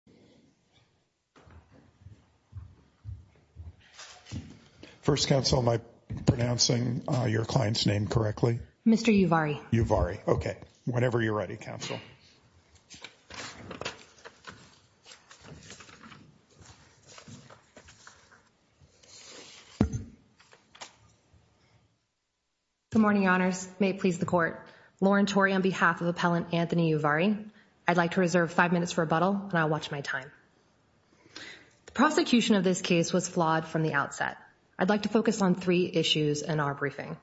Good morning, Your Honors. May it please the Court, Lauren Tory on behalf of Appellant and I'll watch my time. The prosecution of this case was flawed from the outset. I'd like to focus on three issues in our briefing.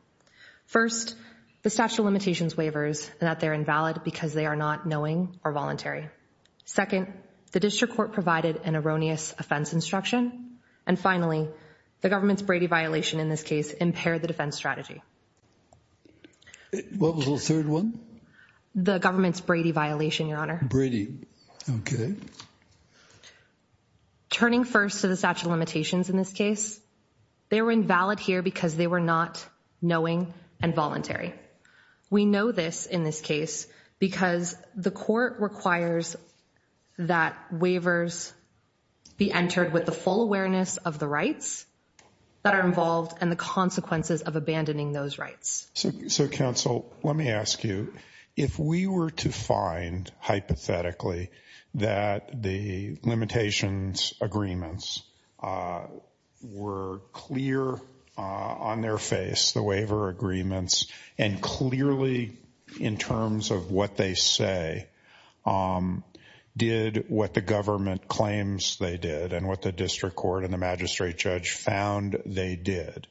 First, the statute of limitations waivers and that they're invalid because they are not knowing or voluntary. Second, the district court provided an erroneous offense instruction. And finally, the government's Brady violation in this case impaired the defense strategy. What was the third one? The government's Brady violation, Your Honor. Brady. Okay. Turning first to the statute of limitations in this case, they were invalid here because they were not knowing and voluntary. We know this in this case because the court requires that waivers be entered with the full awareness of the rights that are involved and the consequences of abandoning those rights. So, so, counsel, let me ask you, if we were to find hypothetically that the limitations agreements were clear on their face, the waiver agreements, and clearly in terms of what they say, did what the government claims they did and what the district court and the magistrate judge found they did,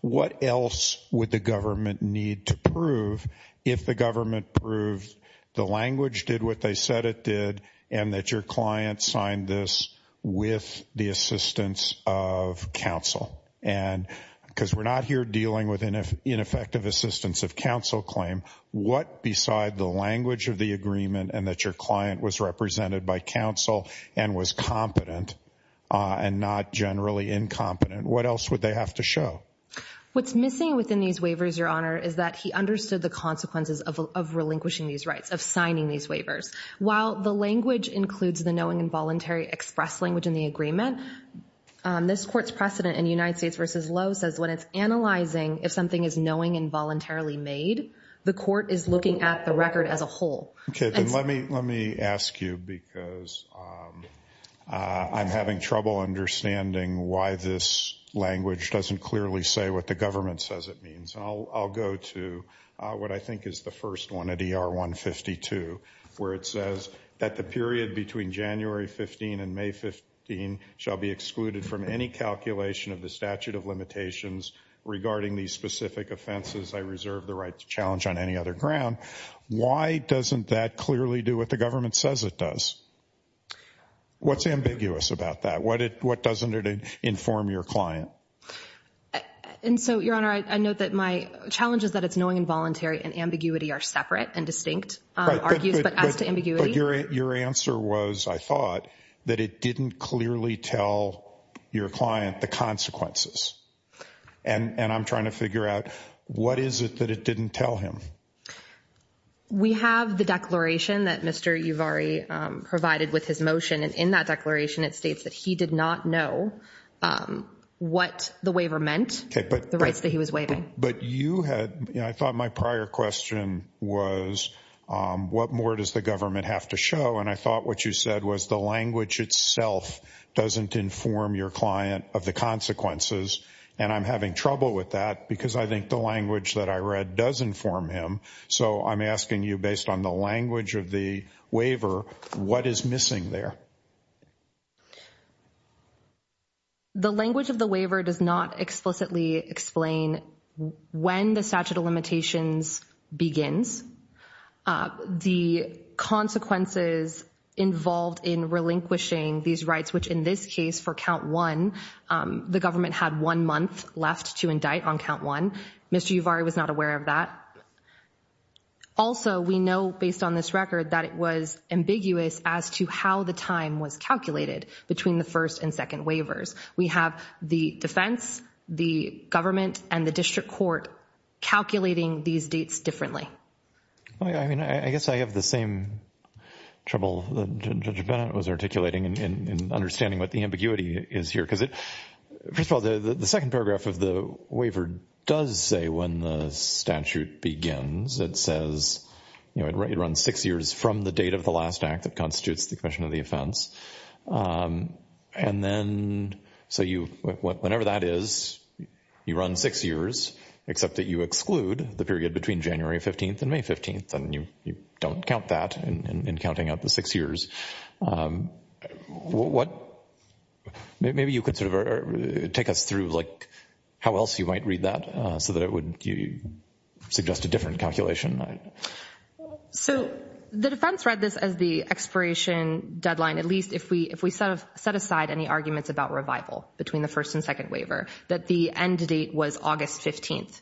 what else would the government need to prove if the government proved the language did what they said it did and that your client signed this with the assistance of counsel? And because we're not here dealing with ineffective assistance of counsel claim, what beside the language of the agreement and that your client was represented by counsel and was competent and not generally incompetent, what else would they have to show? What's missing within these waivers, Your Honor, is that he understood the consequences of relinquishing these rights, of signing these waivers. While the language includes the knowing and voluntary express language in the agreement, this court's precedent in United States versus Lowe says when it's analyzing if something is knowing and voluntarily made, the court is looking at the record as a whole. Okay. Let me ask you because I'm having trouble understanding why this language doesn't clearly say what the government says it means. I'll go to what I think is the first one at ER152 where it says that the period between January 15 and May 15 shall be excluded from any calculation of the statute of limitations regarding these specific offenses. I reserve the right to challenge on any other ground. Why doesn't that clearly do what the government says it does? What's ambiguous about that? What doesn't it inform your client? And so, Your Honor, I note that my challenge is that it's knowing and voluntary and ambiguity are separate and distinct argues, but as to ambiguity. Your answer was, I thought, that it didn't clearly tell your client the consequences. And I'm trying to figure out, what is it that it didn't tell him? We have the declaration that Mr. Yuvari provided with his motion, and in that declaration it states that he did not know what the waiver meant, the rights that he was waiving. But you had, I thought my prior question was, what more does the government have to show? And I thought what you said was the language itself doesn't inform your client of the consequences and I'm having trouble with that because I think the language that I read does inform him. So I'm asking you, based on the language of the waiver, what is missing there? The language of the waiver does not explicitly explain when the statute of limitations begins. The consequences involved in relinquishing these rights, which in this case for count one, the government had one month left to indict on count one. Mr. Yuvari was not aware of that. Also we know, based on this record, that it was ambiguous as to how the time was calculated between the first and second waivers. We have the defense, the government, and the district court calculating these dates differently. I mean, I guess I have the same trouble that Judge Bennett was articulating in understanding what the ambiguity is here because it, first of all, the second paragraph of the waiver does say when the statute begins, it says, you know, it runs six years from the date of the last act that constitutes the commission of the offense. And then, so you, whenever that is, you run six years except that you exclude the period between January 15th and May 15th and you don't count that in counting out the six years. What, maybe you could sort of take us through, like, how else you might read that so that it would suggest a different calculation. So the defense read this as the expiration deadline, at least if we set aside any arguments about revival between the first and second waiver, that the end date was August 15th.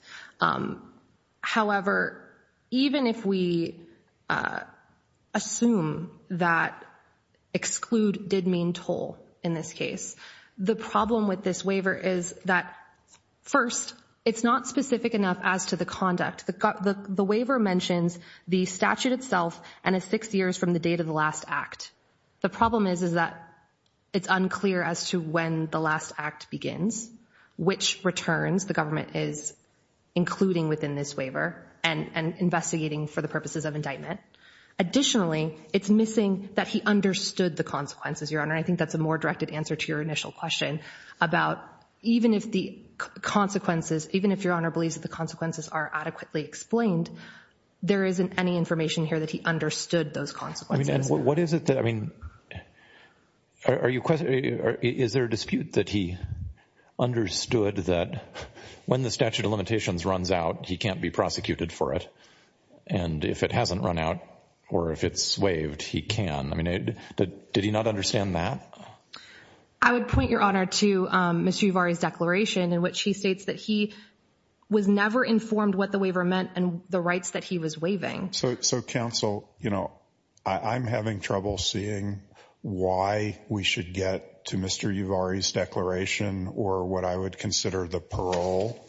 However, even if we assume that exclude did mean toll in this case, the problem with this waiver is that, first, it's not specific enough as to the conduct. The waiver mentions the statute itself and it's six years from the date of the last act. The problem is, is that it's unclear as to when the last act begins, which returns the government is including within this waiver and investigating for the purposes of indictment. Additionally, it's missing that he understood the consequences, Your Honor, and I think that's a more directed answer to your initial question about even if the consequences, even if Your Honor believes that the consequences are adequately explained, there isn't any information here that he understood those consequences. I mean, and what is it that, I mean, are you, is there a dispute that he understood that when the statute of limitations runs out, he can't be prosecuted for it? And if it hasn't run out or if it's waived, he can. I mean, did he not understand that? I would point, Your Honor, to Mr. Uvari's declaration in which he states that he was never informed what the waiver meant and the rights that he was waiving. So counsel, you know, I'm having trouble seeing why we should get to Mr. Uvari's declaration or what I would consider the parole.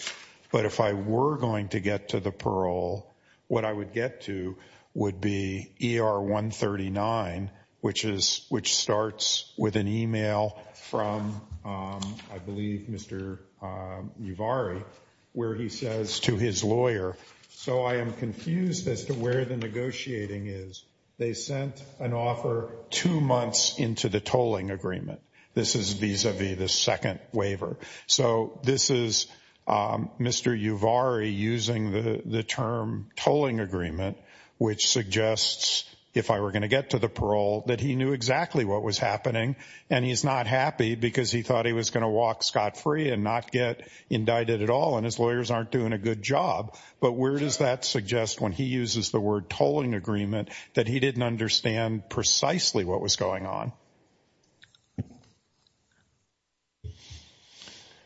But if I were going to get to the parole, what I would get to would be ER 139, which is, which starts with an email from, I believe, Mr. Uvari, where he says to his lawyer, so I am confused as to where the negotiating is. They sent an offer two months into the tolling agreement. This is vis-a-vis the second waiver. So this is Mr. Uvari using the term tolling agreement, which suggests, if I were going to get to the parole, that he knew exactly what was happening. And he's not happy because he thought he was going to walk scot-free and not get indicted at all. And his lawyers aren't doing a good job. But where does that suggest, when he uses the word tolling agreement, that he didn't understand precisely what was going on?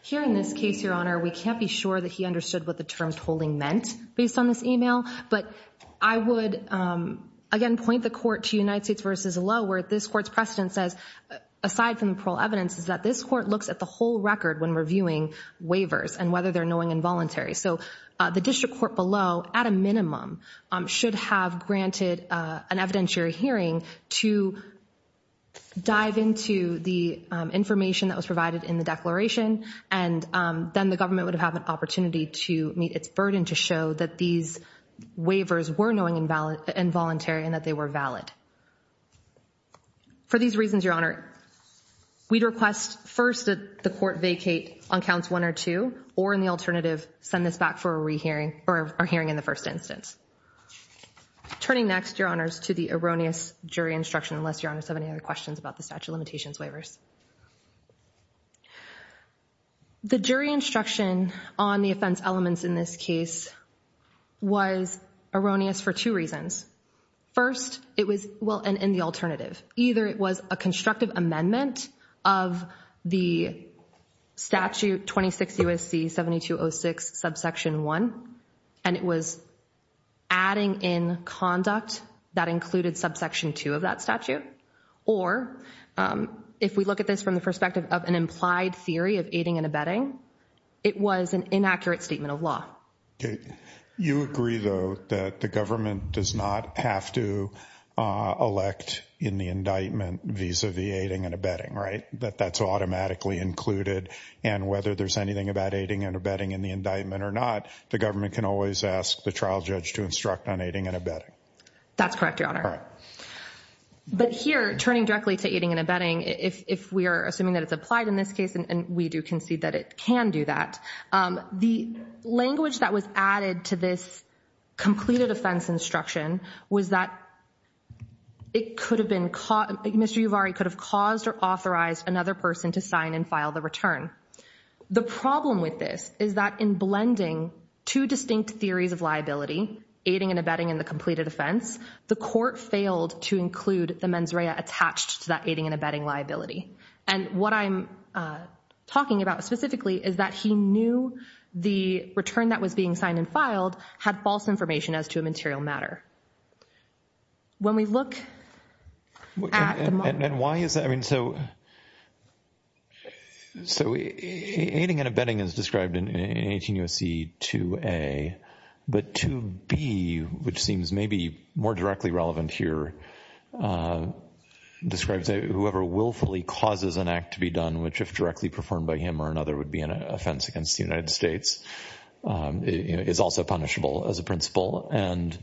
Here in this case, Your Honor, we can't be sure that he understood what the term tolling meant based on this email. But I would, again, point the court to United States v. Lowe, where this court's precedent says, aside from the parole evidence, is that this court looks at the whole record when reviewing waivers and whether they're knowing involuntary. So the district court below, at a minimum, should have granted an evidentiary hearing to dive into the information that was provided in the declaration. And then the government would have had an opportunity to meet its burden to show that these waivers were knowing involuntary and that they were valid. For these reasons, Your Honor, we'd request first that the court vacate on counts one or two, or in the alternative, send this back for a hearing in the first instance. Turning next, Your Honors, to the erroneous jury instruction, unless Your Honors have any other questions about the statute of limitations waivers. The jury instruction on the offense elements in this case was erroneous for two reasons. First, it was, well, and in the alternative, either it was a constructive amendment of the statute 26 U.S.C. 7206, subsection one, and it was adding in conduct that included subsection two of that statute. Or if we look at this from the perspective of an implied theory of aiding and abetting, it was an inaccurate statement of law. You agree, though, that the government does not have to elect in the indictment vis-a-vis aiding and abetting, right? That that's automatically included, and whether there's anything about aiding and abetting in the indictment or not, the government can always ask the trial judge to instruct on aiding and abetting. That's correct, Your Honor. But here, turning directly to aiding and abetting, if we are assuming that it's applied in this case, and we do concede that it can do that, the language that was added to this completed offense instruction was that it could have been, Mr. Uvari could have caused or authorized another person to sign and file the return. The problem with this is that in blending two distinct theories of liability, aiding and abetting and the completed offense, the court failed to include the mens rea attached to that aiding and abetting liability. And what I'm talking about specifically is that he knew the return that was being signed and filed had false information as to a material matter. When we look at the model— And why is that? I mean, so aiding and abetting is described in 18 U.S.C. 2a, but 2b, which seems maybe more directly relevant here, describes whoever willfully causes an act to be done, which if directly performed by him or another would be an offense against the United States, is also punishable as a principle. And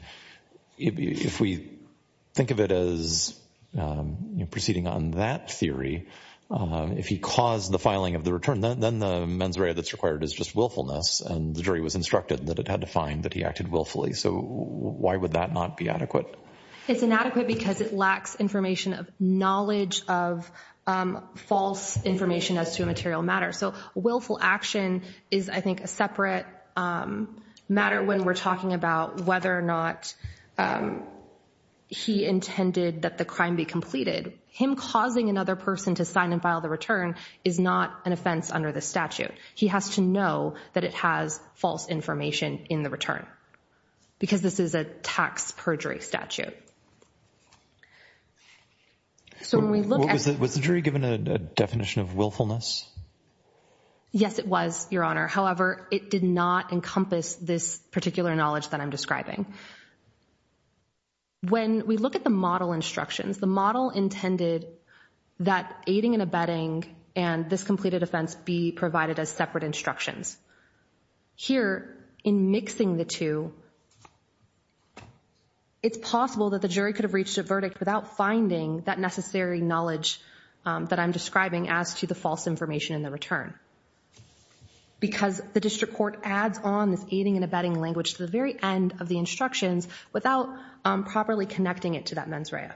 if we think of it as proceeding on that theory, if he caused the filing of the return, then the mens rea that's required is just willfulness, and the jury was instructed that it had to find that he acted willfully. So why would that not be adequate? It's inadequate because it lacks information of knowledge of false information as to a material matter. So willful action is, I think, a separate matter when we're talking about whether or not he intended that the crime be completed. Him causing another person to sign and file the return is not an offense under the statute. He has to know that it has false information in the return, because this is a tax perjury statute. Was the jury given a definition of willfulness? Yes, it was, Your Honor. However, it did not encompass this particular knowledge that I'm describing. When we look at the model instructions, the model intended that aiding and abetting and this completed offense be provided as separate instructions. Here, in mixing the two, it's possible that the jury could have reached a verdict without finding that necessary knowledge that I'm describing as to the false information in the return, because the district court adds on this aiding and abetting language to the very end of the instructions without properly connecting it to that mens rea.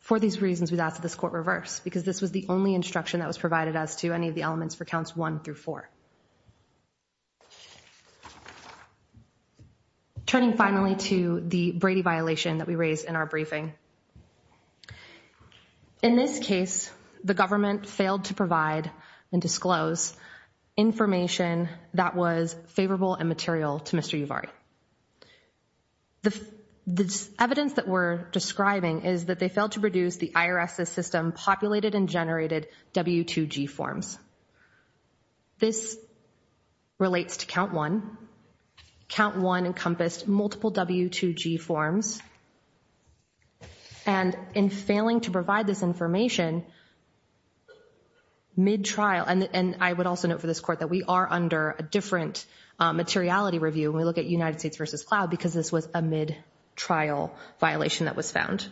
For these reasons, we've asked that this court reverse, because this was the only instruction that was provided as to any of the elements for counts one through four. Turning finally to the Brady violation that we raised in our briefing. In this case, the government failed to provide and disclose information that was favorable and material to Mr. Yuvari. The evidence that we're describing is that they failed to reduce the IRS's system populated and generated W2G forms. This relates to count one. Count one encompassed multiple W2G forms. And in failing to provide this information mid-trial, and I would also note for this court that we are under a different materiality review when we look at United States v. Cloud, because this was a mid-trial violation that was found.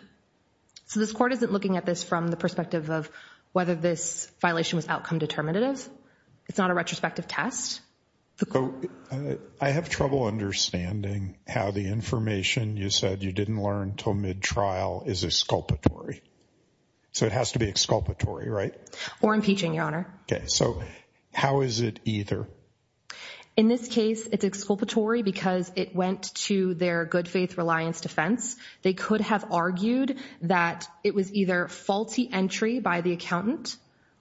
So this court isn't looking at this from the perspective of whether this violation was outcome determinative. It's not a retrospective test. I have trouble understanding how the information you said you didn't learn until mid-trial is exculpatory. So it has to be exculpatory, right? Or impeaching, Your Honor. Okay, so how is it either? In this case, it's exculpatory because it went to their good faith reliance defense. They could have argued that it was either faulty entry by the accountant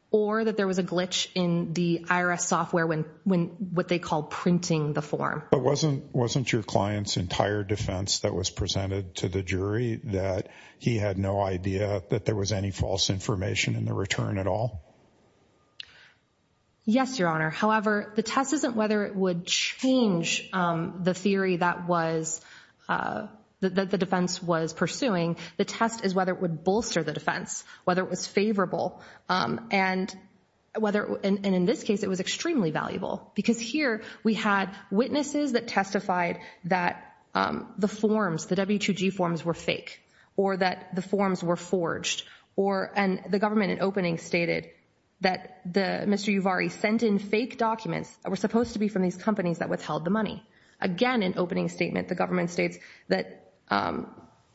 or that there was a glitch in the IRS software when what they call printing the form. But wasn't your client's entire defense that was presented to the jury that he had no idea that there was any false information in the return at all? Yes, Your Honor. However, the test isn't whether it would change the theory that the defense was pursuing. The test is whether it would bolster the defense, whether it was favorable, and in this case it was extremely valuable. Because here we had witnesses that testified that the forms, the W2G forms were fake or that the forms were forged. And the government in opening stated that Mr. Yuvari sent in fake documents that were supposed to be from these companies that withheld the money. Again, in opening statement, the government states that Mr.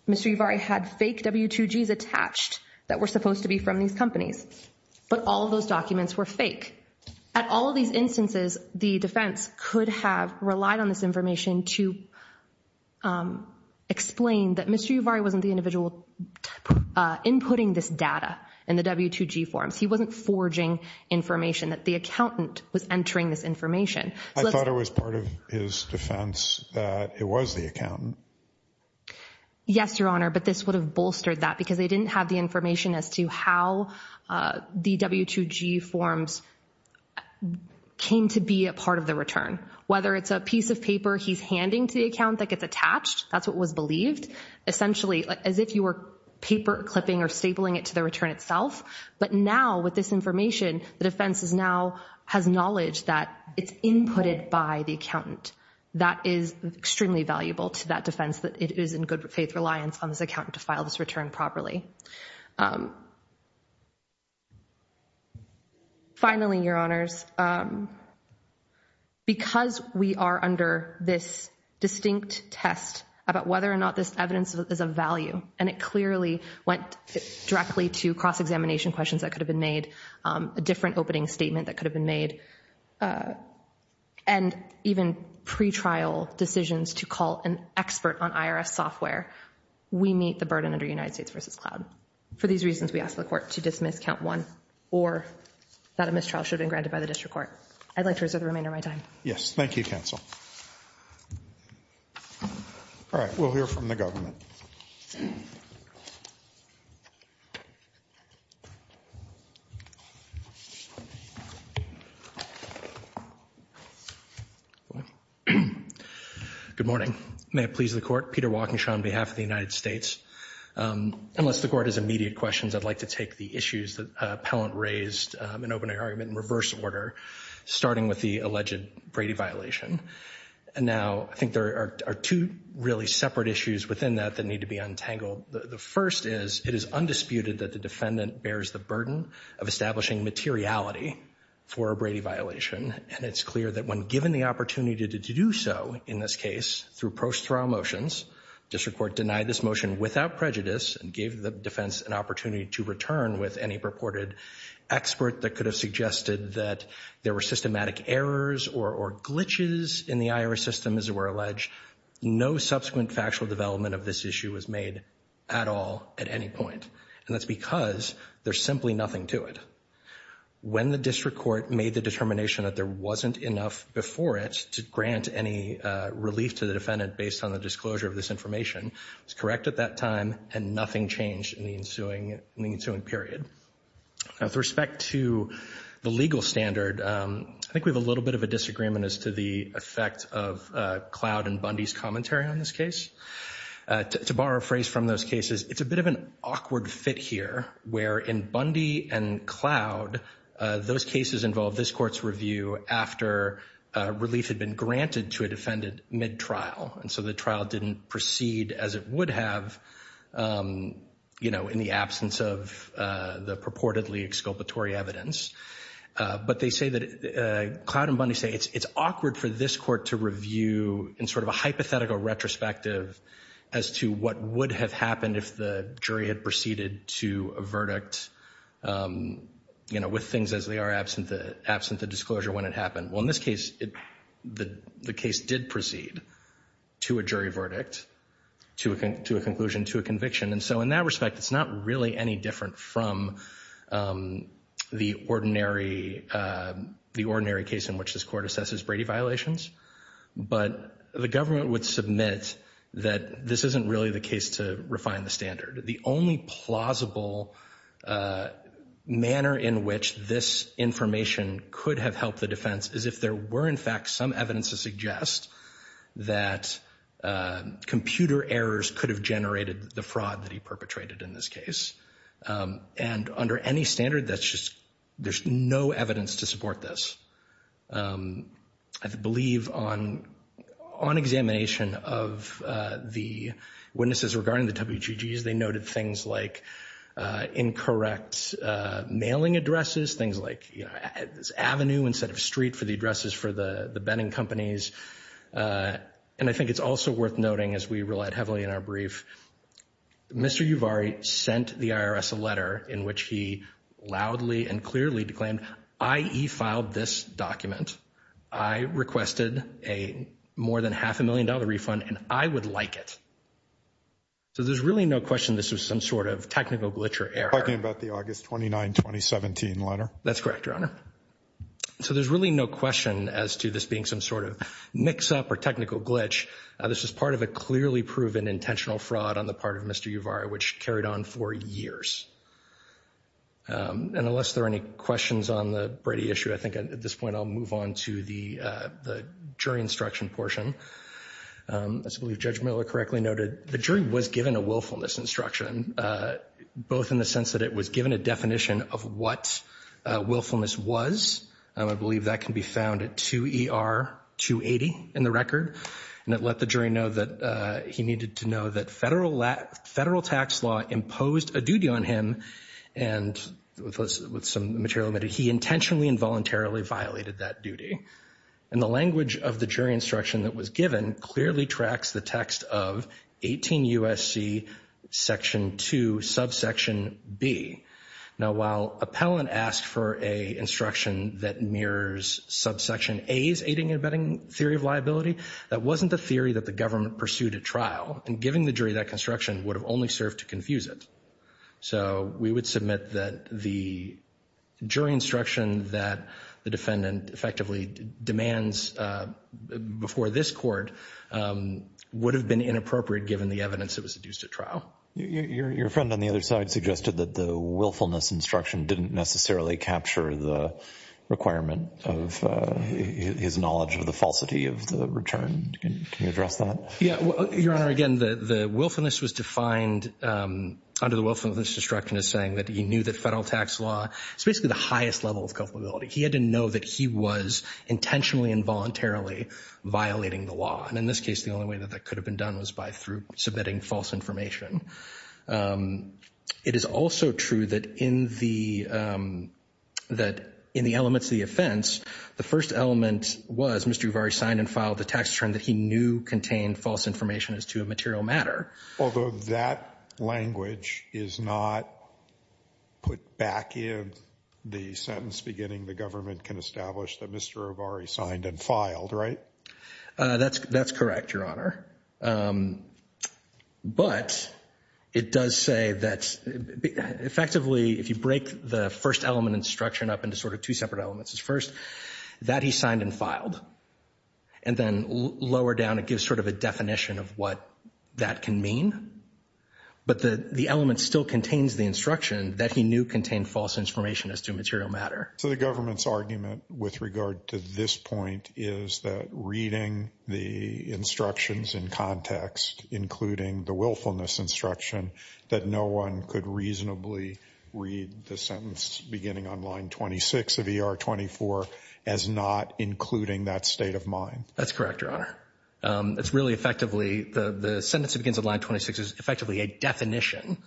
Yuvari had fake W2Gs attached that were supposed to be from these companies. But all of those documents were fake. At all of these instances, the defense could have relied on this information to explain that Mr. Yuvari wasn't the individual inputting this data in the W2G forms. He wasn't forging information, that the accountant was entering this information. I thought it was part of his defense that it was the accountant. Yes, Your Honor, but this would have bolstered that because they didn't have the information as to how the W2G forms came to be a part of the return. Whether it's a piece of paper he's handing to the account that gets attached, that's what was believed. Essentially, as if you were paper clipping or stapling it to the return itself. But now, with this information, the defense now has knowledge that it's inputted by the That is extremely valuable to that defense that it is in good faith reliance on this accountant to file this return properly. Finally, Your Honors, because we are under this distinct test about whether or not this evidence is of value, and it clearly went directly to cross-examination questions that could have been made, a different opening statement that could have been made, and even pretrial decisions to call an expert on IRS software, we meet the burden under United For these reasons, we ask the court to dismiss count one, or that a mistrial should have been granted by the district court. I'd like to reserve the remainder of my time. Yes. Thank you, counsel. All right. We'll hear from the government. Good morning. May it please the court. Peter Walkingshaw on behalf of the United States. Unless the court has immediate questions, I'd like to take the issues that appellant raised in opening argument in reverse order, starting with the alleged Brady violation. And now, I think there are two really separate issues within that that need to be untangled. The first is, it is undisputed that the defendant bears the burden of establishing materiality for a Brady violation, and it's clear that when given the opportunity to do so, in this case, through post-trial motions, district court denied this motion without prejudice and gave the defense an opportunity to return with any purported expert that could have suggested that there were systematic errors or glitches in the IRS system, as it were alleged. No subsequent factual development of this issue was made at all at any point. And that's because there's simply nothing to it. When the district court made the determination that there wasn't enough before it to provide any relief to the defendant based on the disclosure of this information, it was correct at that time, and nothing changed in the ensuing period. Now, with respect to the legal standard, I think we have a little bit of a disagreement as to the effect of Cloud and Bundy's commentary on this case. To borrow a phrase from those cases, it's a bit of an awkward fit here, where in Bundy and Cloud, those cases involve this court's review after relief had been granted to a defendant mid-trial. And so the trial didn't proceed as it would have, you know, in the absence of the purportedly exculpatory evidence. But they say that Cloud and Bundy say it's awkward for this court to review in sort of a hypothetical retrospective as to what would have happened if the jury had proceeded to a verdict, you know, with things as they are absent the disclosure when it happened. Well, in this case, the case did proceed to a jury verdict, to a conclusion, to a conviction. And so in that respect, it's not really any different from the ordinary case in which this court assesses Brady violations. But the government would submit that this isn't really the case to refine the standard. The only plausible manner in which this information could have helped the defense is if there were, in fact, some evidence to suggest that computer errors could have generated the fraud that he perpetrated in this case. And under any standard, that's just, there's no evidence to support this. I believe on examination of the witnesses regarding the WGGs, they noted things like incorrect mailing addresses, things like, you know, avenue instead of street for the addresses for the betting companies. And I think it's also worth noting, as we relied heavily in our brief, Mr. Uvari sent the IRS a more than half a million dollar refund, and I would like it. So there's really no question this was some sort of technical glitch or error. You're talking about the August 29, 2017 letter? That's correct, Your Honor. So there's really no question as to this being some sort of mix-up or technical glitch. This was part of a clearly proven intentional fraud on the part of Mr. Uvari, which carried on for years. And unless there are any questions on the Brady issue, I think at this point I'll move on to the jury instruction portion. I believe Judge Miller correctly noted the jury was given a willfulness instruction, both in the sense that it was given a definition of what willfulness was. I believe that can be found at 2ER280 in the record, and it let the jury know that he needed to he intentionally and voluntarily violated that duty. And the language of the jury instruction that was given clearly tracks the text of 18 U.S.C. section 2, subsection B. Now, while appellant asked for a instruction that mirrors subsection A's aiding and abetting theory of liability, that wasn't the theory that the government pursued at trial. And giving the jury that construction would have only served to confuse it. So we would submit that the jury instruction that the defendant effectively demands before this court would have been inappropriate given the evidence that was used at trial. Your friend on the other side suggested that the willfulness instruction didn't necessarily capture the requirement of his knowledge of the falsity of the return. Can you address that? Your Honor, again, the willfulness was defined under the willfulness instruction as saying that he knew that federal tax law is basically the highest level of culpability. He had to know that he was intentionally and voluntarily violating the law. And in this case, the only way that that could have been done was by through submitting false information. It is also true that in the elements of the offense, the first element was Mr. Obari signed and filed the tax return that he knew contained false information as to a material matter. Although that language is not put back in the sentence beginning the government can establish that Mr. Obari signed and filed, right? That's correct, Your Honor. But it does say that effectively if you break the first element instruction up into sort of two separate elements, first that he signed and filed, and then lower down it gives sort of a definition of what that can mean. But the element still contains the instruction that he knew contained false information as to a material matter. So the government's argument with regard to this point is that reading the instructions in context, including the willfulness instruction, that no one could reasonably read the sentence beginning on line 26 of ER 24 as not including that state of mind. That's correct, Your Honor. It's really effectively the sentence that begins on line 26 is effectively a definition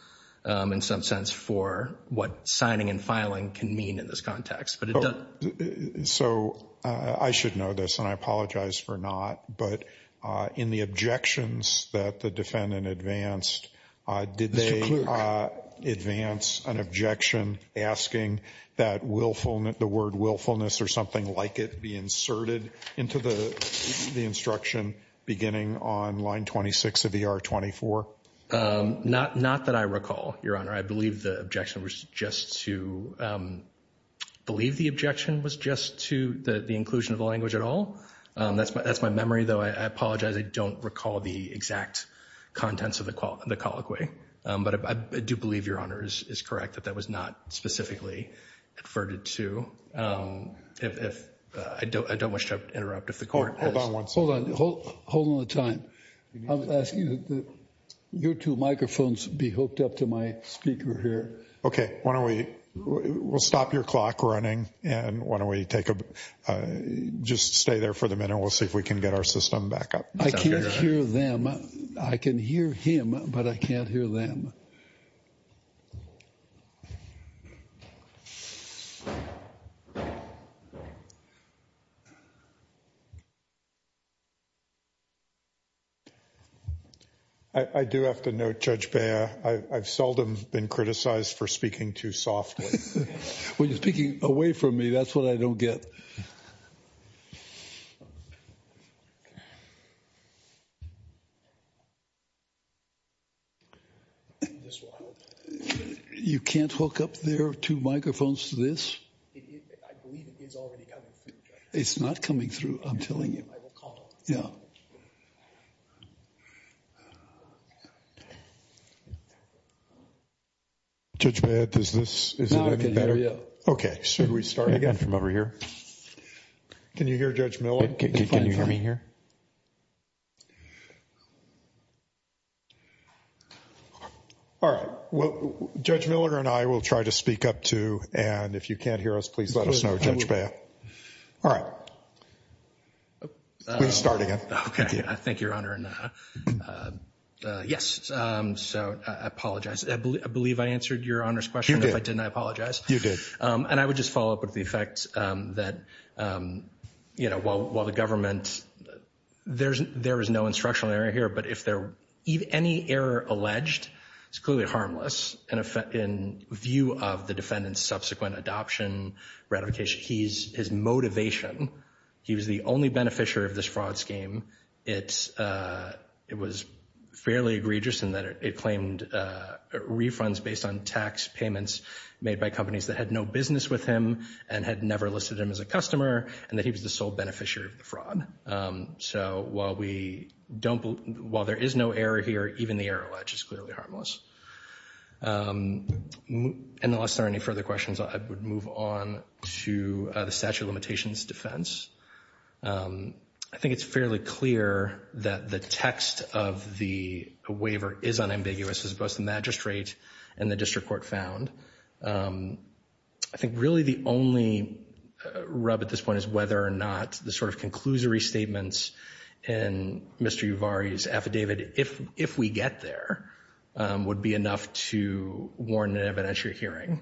in some sense for what signing and filing can mean in this context. So I should know this and I apologize for not, but in the objections that the defendant advanced, did they advance an objection asking that willfulness, the word willfulness or something like it be inserted into the instruction beginning on line 26 of ER 24? Not that I recall, Your Honor. I believe the objection was just to the inclusion of the language at all. That's my memory, though. I apologize. I don't recall the exact contents of the colloquy. But I do believe, Your Honor, is correct that that was not specifically adverted to. I don't wish to interrupt if the court has. Hold on one second. Hold on the time. I was asking that your two microphones be hooked up to my speaker here. Okay. Why don't we stop your clock running and why don't we take a just stay there for the minute. We'll see if we can get our system back up. I can't hear them. I can hear him, but I can't hear them. I do have to note, Judge Beyer, I've seldom been criticized for speaking too softly. When you're speaking away from me, that's what I don't get. You can't hook up their two microphones to this? I believe it is already coming through, Judge. It's not coming through. I'm telling you. I will call. Yeah. Judge Beyer, does this... Now I can hear you. Okay. Should we start again from over here? Can you hear Judge Miller? Can you hear me here? All right. Well, Judge Miller and I will try to speak up too and if you can't hear us, please let us know, Judge Beyer. All right. We can start again. Okay. Thank you, Your Honor. Yes. So, I apologize. I believe I answered Your Honor's question. If I didn't, I apologize. You did. And I would just follow up with the effect that, you know, while the government... There is no instructional error here, but if any error alleged, it's clearly harmless in view of the defendant's subsequent adoption, ratification. His motivation, he was the only beneficiary of this fraud scheme. It was fairly egregious in that it claimed refunds based on tax payments made by companies that had no business with him and had never listed him as a customer, and that he was the sole beneficiary of the fraud. So, while we don't... While there is no error here, even the error allege is clearly harmless. And unless there are any further questions, I would move on to the statute of limitations defense. I think it's fairly clear that the text of the waiver is unambiguous as both the magistrate and the district court found. I think really the only rub at this point is whether or not the sort of conclusory statements in Mr. Yuvari's affidavit, if we get there, would be enough to warn an evidentiary hearing.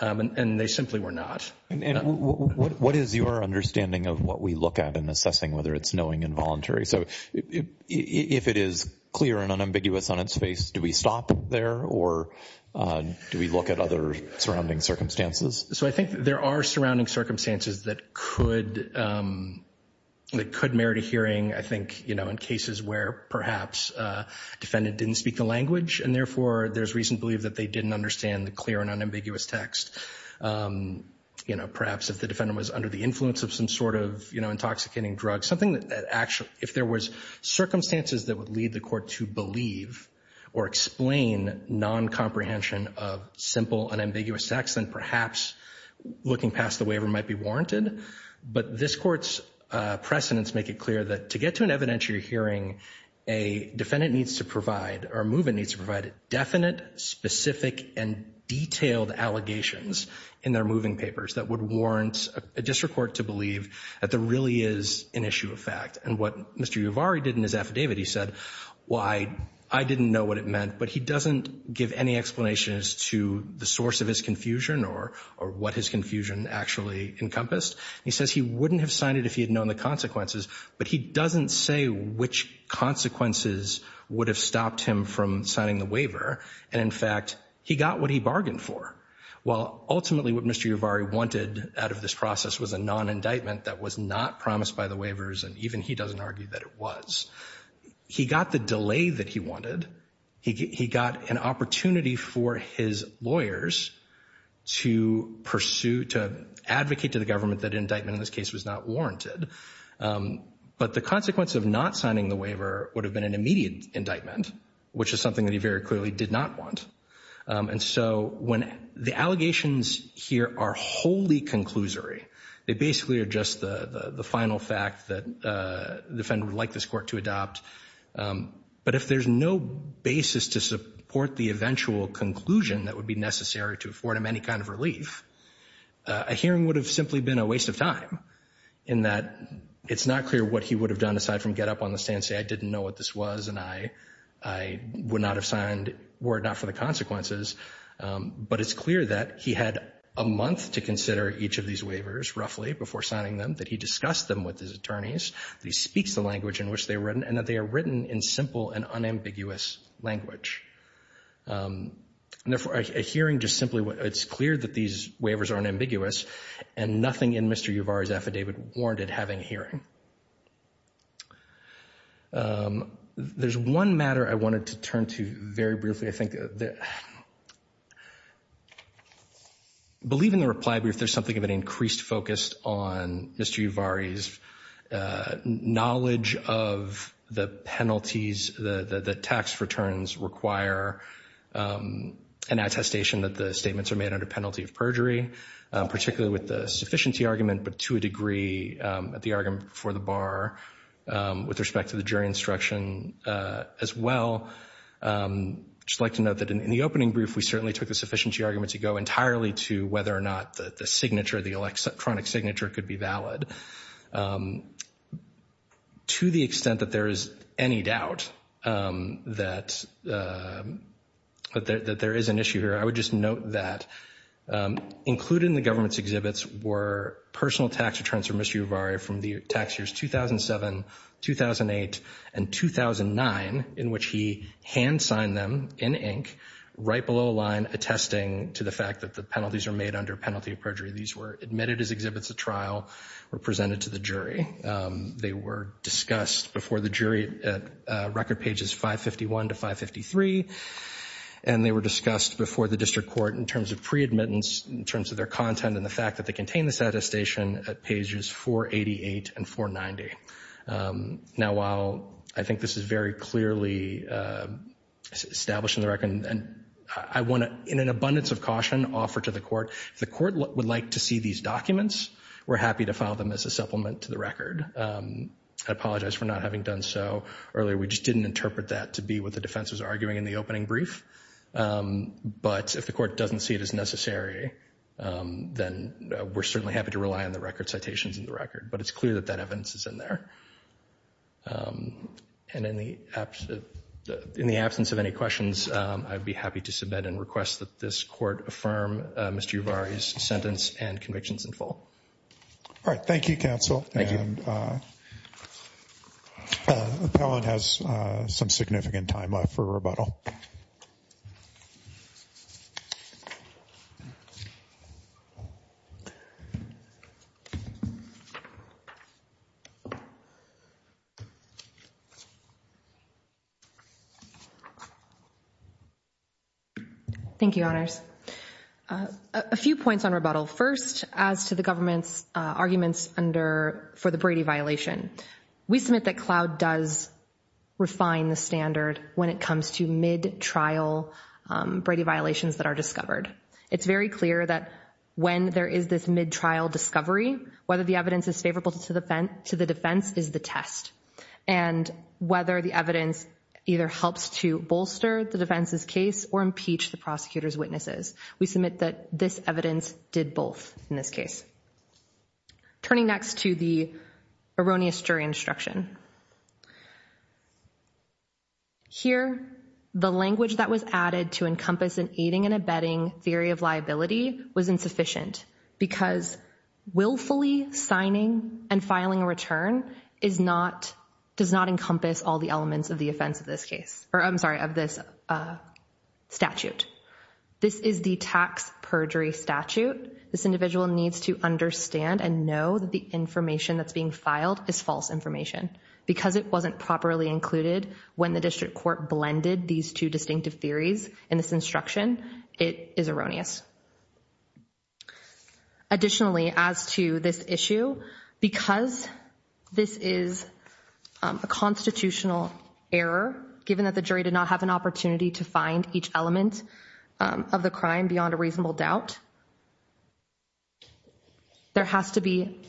And they simply were not. And what is your understanding of what we look at in assessing whether it's knowing and voluntary? So, if it is clear and unambiguous on its face, do we stop there or do we look at other surrounding circumstances? So, I think there are surrounding circumstances that could merit a hearing, I think, you know, in cases where perhaps a defendant didn't speak the language and therefore there's reason to believe that they didn't understand the clear and unambiguous text. You know, perhaps if the defendant was under the influence of some sort of, you know, intoxicating drug, something that actually... If there was circumstances that would lead the court to believe or explain non-comprehension of simple unambiguous text, then perhaps looking past the waiver might be warranted. But this Court's precedents make it clear that to get to an evidentiary hearing, a defendant needs to provide or a movement needs to provide definite, specific, and detailed allegations in their moving papers that would warrant a district court to believe that there really is an issue of fact. And what Mr. Yuvari did in his affidavit, he said, well, I didn't know what it meant, but he doesn't give any explanation as to the source of his confusion or what his confusion actually encompassed. He says he wouldn't have signed it if he had known the consequences, but he doesn't say which consequences would have stopped him from signing the waiver. And, in fact, he got what he bargained for. Well, ultimately what Mr. Yuvari wanted out of this process was a non-indictment that was not promised by the waivers, and even he doesn't argue that it was. He got the delay that he wanted. He got an opportunity for his lawyers to pursue, to advocate to the government that indictment in this case was not warranted. But the consequence of not signing the waiver would have been an immediate indictment, which is something that he very clearly did not want. And so when the allegations here are wholly conclusory, they basically are just the final fact that the defendant would like this court to adopt. But if there's no basis to support the eventual conclusion that would be necessary to afford him any kind of relief, a hearing would have simply been a waste of time in that it's not clear what he would have done aside from get up on the stand and say, I didn't know what this was, and I would not have signed, were it not for the consequences. But it's clear that he had a month to consider each of these waivers, roughly, before signing them, that he discussed them with his attorneys, that he speaks the language in which they were written, and that they are written in simple and unambiguous language. Therefore, a hearing just simply, it's clear that these waivers are unambiguous, and nothing in Mr. Yuvar's affidavit warranted having a hearing. There's one matter I wanted to turn to very briefly. I think that, I believe in the reply brief, there's something of an increased focus on Mr. Yuvar's knowledge of the penalties, the tax returns require an attestation that the statements are made under penalty of perjury, particularly with the sufficiency argument, but to a degree at the argument before the bar with respect to the jury instruction as well. I'd just like to note that in the opening brief, we certainly took the sufficiency argument to go entirely to whether or not the signature, the electronic signature, could be valid. To the extent that there is any doubt that there is an issue here, I would just note that included in the government's exhibits were personal tax returns for Mr. Yuvar from the tax years 2007, 2008, and 2009, in which he hand-signed them in ink, right below a line attesting to the fact that the penalties are made under penalty of perjury. These were admitted as exhibits of trial, were presented to the jury. They were discussed before the jury at record pages 551 to 553, and they were discussed before the district court in terms of pre-admittance, in terms of their content and the fact that they contain this attestation at pages 488 and 490. Now, while I think this is very clearly established in the record, I want to, in an abundance of caution, offer to the court, if the court would like to see these documents, we're happy to file them as a supplement to the record. I apologize for not having done so earlier. We just didn't interpret that to be what the defense was arguing in the opening brief. But if the court doesn't see it as necessary, then we're certainly happy to rely on the record citations in the record. But it's clear that that evidence is in there. And in the absence of any questions, I'd be happy to submit and request that this court affirm Mr. Yuvar's sentence and convictions in full. All right. Thank you, counsel. Thank you. And appellant has some significant time left for rebuttal. Thank you, honors. A few points on rebuttal. First, as to the government's arguments for the Brady violation, we submit that Cloud does refine the standard when it comes to mid-trial Brady violations that are discovered. It's very clear that when there is this mid-trial discovery, whether the evidence is favorable to the defense is the test. And whether the evidence either helps to bolster the defense's case or impeach the prosecutor's witnesses, we submit that this evidence did both in this case. Turning next to the erroneous jury instruction. Here, the language that was added to encompass an aiding and abetting theory of liability was insufficient because willfully signing and filing a return does not encompass all the elements of this statute. This is the tax perjury statute. This individual needs to understand and know that the information that's being filed is false information. Because it wasn't properly included when the district court blended these two distinctive theories in this instruction, it is erroneous. Additionally, as to this issue, because this is a constitutional error, given that the jury did not have an opportunity to find each element of the crime beyond a reasonable doubt, there has to be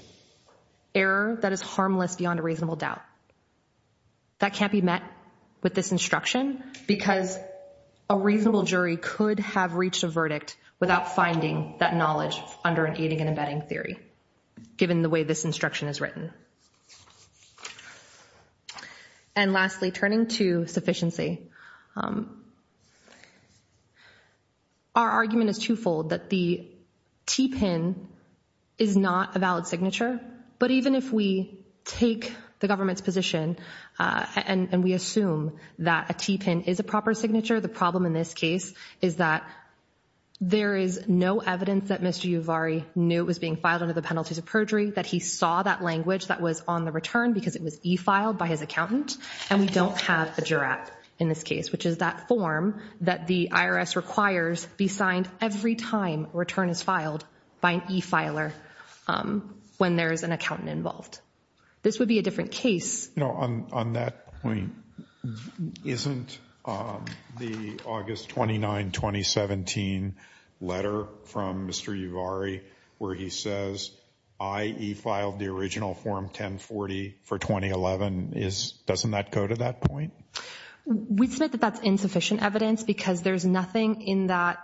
error that is harmless beyond a reasonable doubt. That can't be met with this instruction because a reasonable jury could have reached a verdict without finding that knowledge under an aiding and abetting theory, given the way this instruction is written. And lastly, turning to sufficiency. Our argument is twofold, that the T-PIN is not a valid signature. But even if we take the government's position and we assume that a T-PIN is a proper signature, the problem in this case is that there is no evidence that Mr. Yuvari knew it was being filed under the penalties of perjury, that he saw that language that was on the return because it was e-filed by his accountant, and we don't have a jurat in this case, which is that form that the IRS requires be signed every time a return is filed by an e-filer when there is an accountant involved. This would be a different case. You know, on that point, isn't the August 29, 2017 letter from Mr. Yuvari where he says, I e-filed the original form 1040 for 2011, doesn't that go to that point? We submit that that's insufficient evidence because there's nothing in that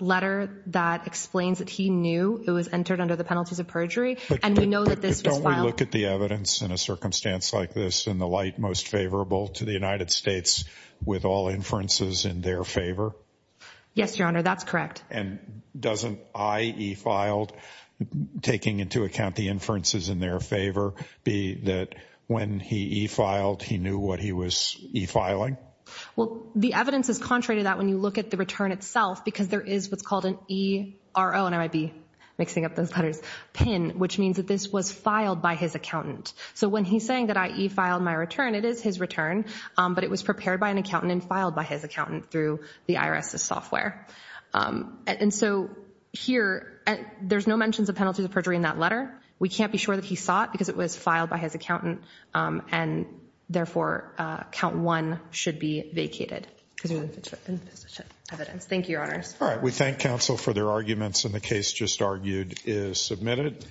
letter that explains that he knew it was entered under the penalties of perjury, and we know that this was filed. Would you look at the evidence in a circumstance like this in the light most favorable to the United States with all inferences in their favor? Yes, Your Honor, that's correct. And doesn't I e-filed, taking into account the inferences in their favor, be that when he e-filed, he knew what he was e-filing? Well, the evidence is contrary to that when you look at the return itself because there is what's called an ERO, and I might be mixing up those letters, PIN, which means that this was filed by his accountant. So when he's saying that I e-filed my return, it is his return, but it was prepared by an accountant and filed by his accountant through the IRS's software. And so here, there's no mentions of penalties of perjury in that letter. We can't be sure that he saw it because it was filed by his accountant, and therefore count one should be vacated because there's insufficient evidence. Thank you, Your Honors. All right. We thank counsel for their arguments, and the case just argued is submitted.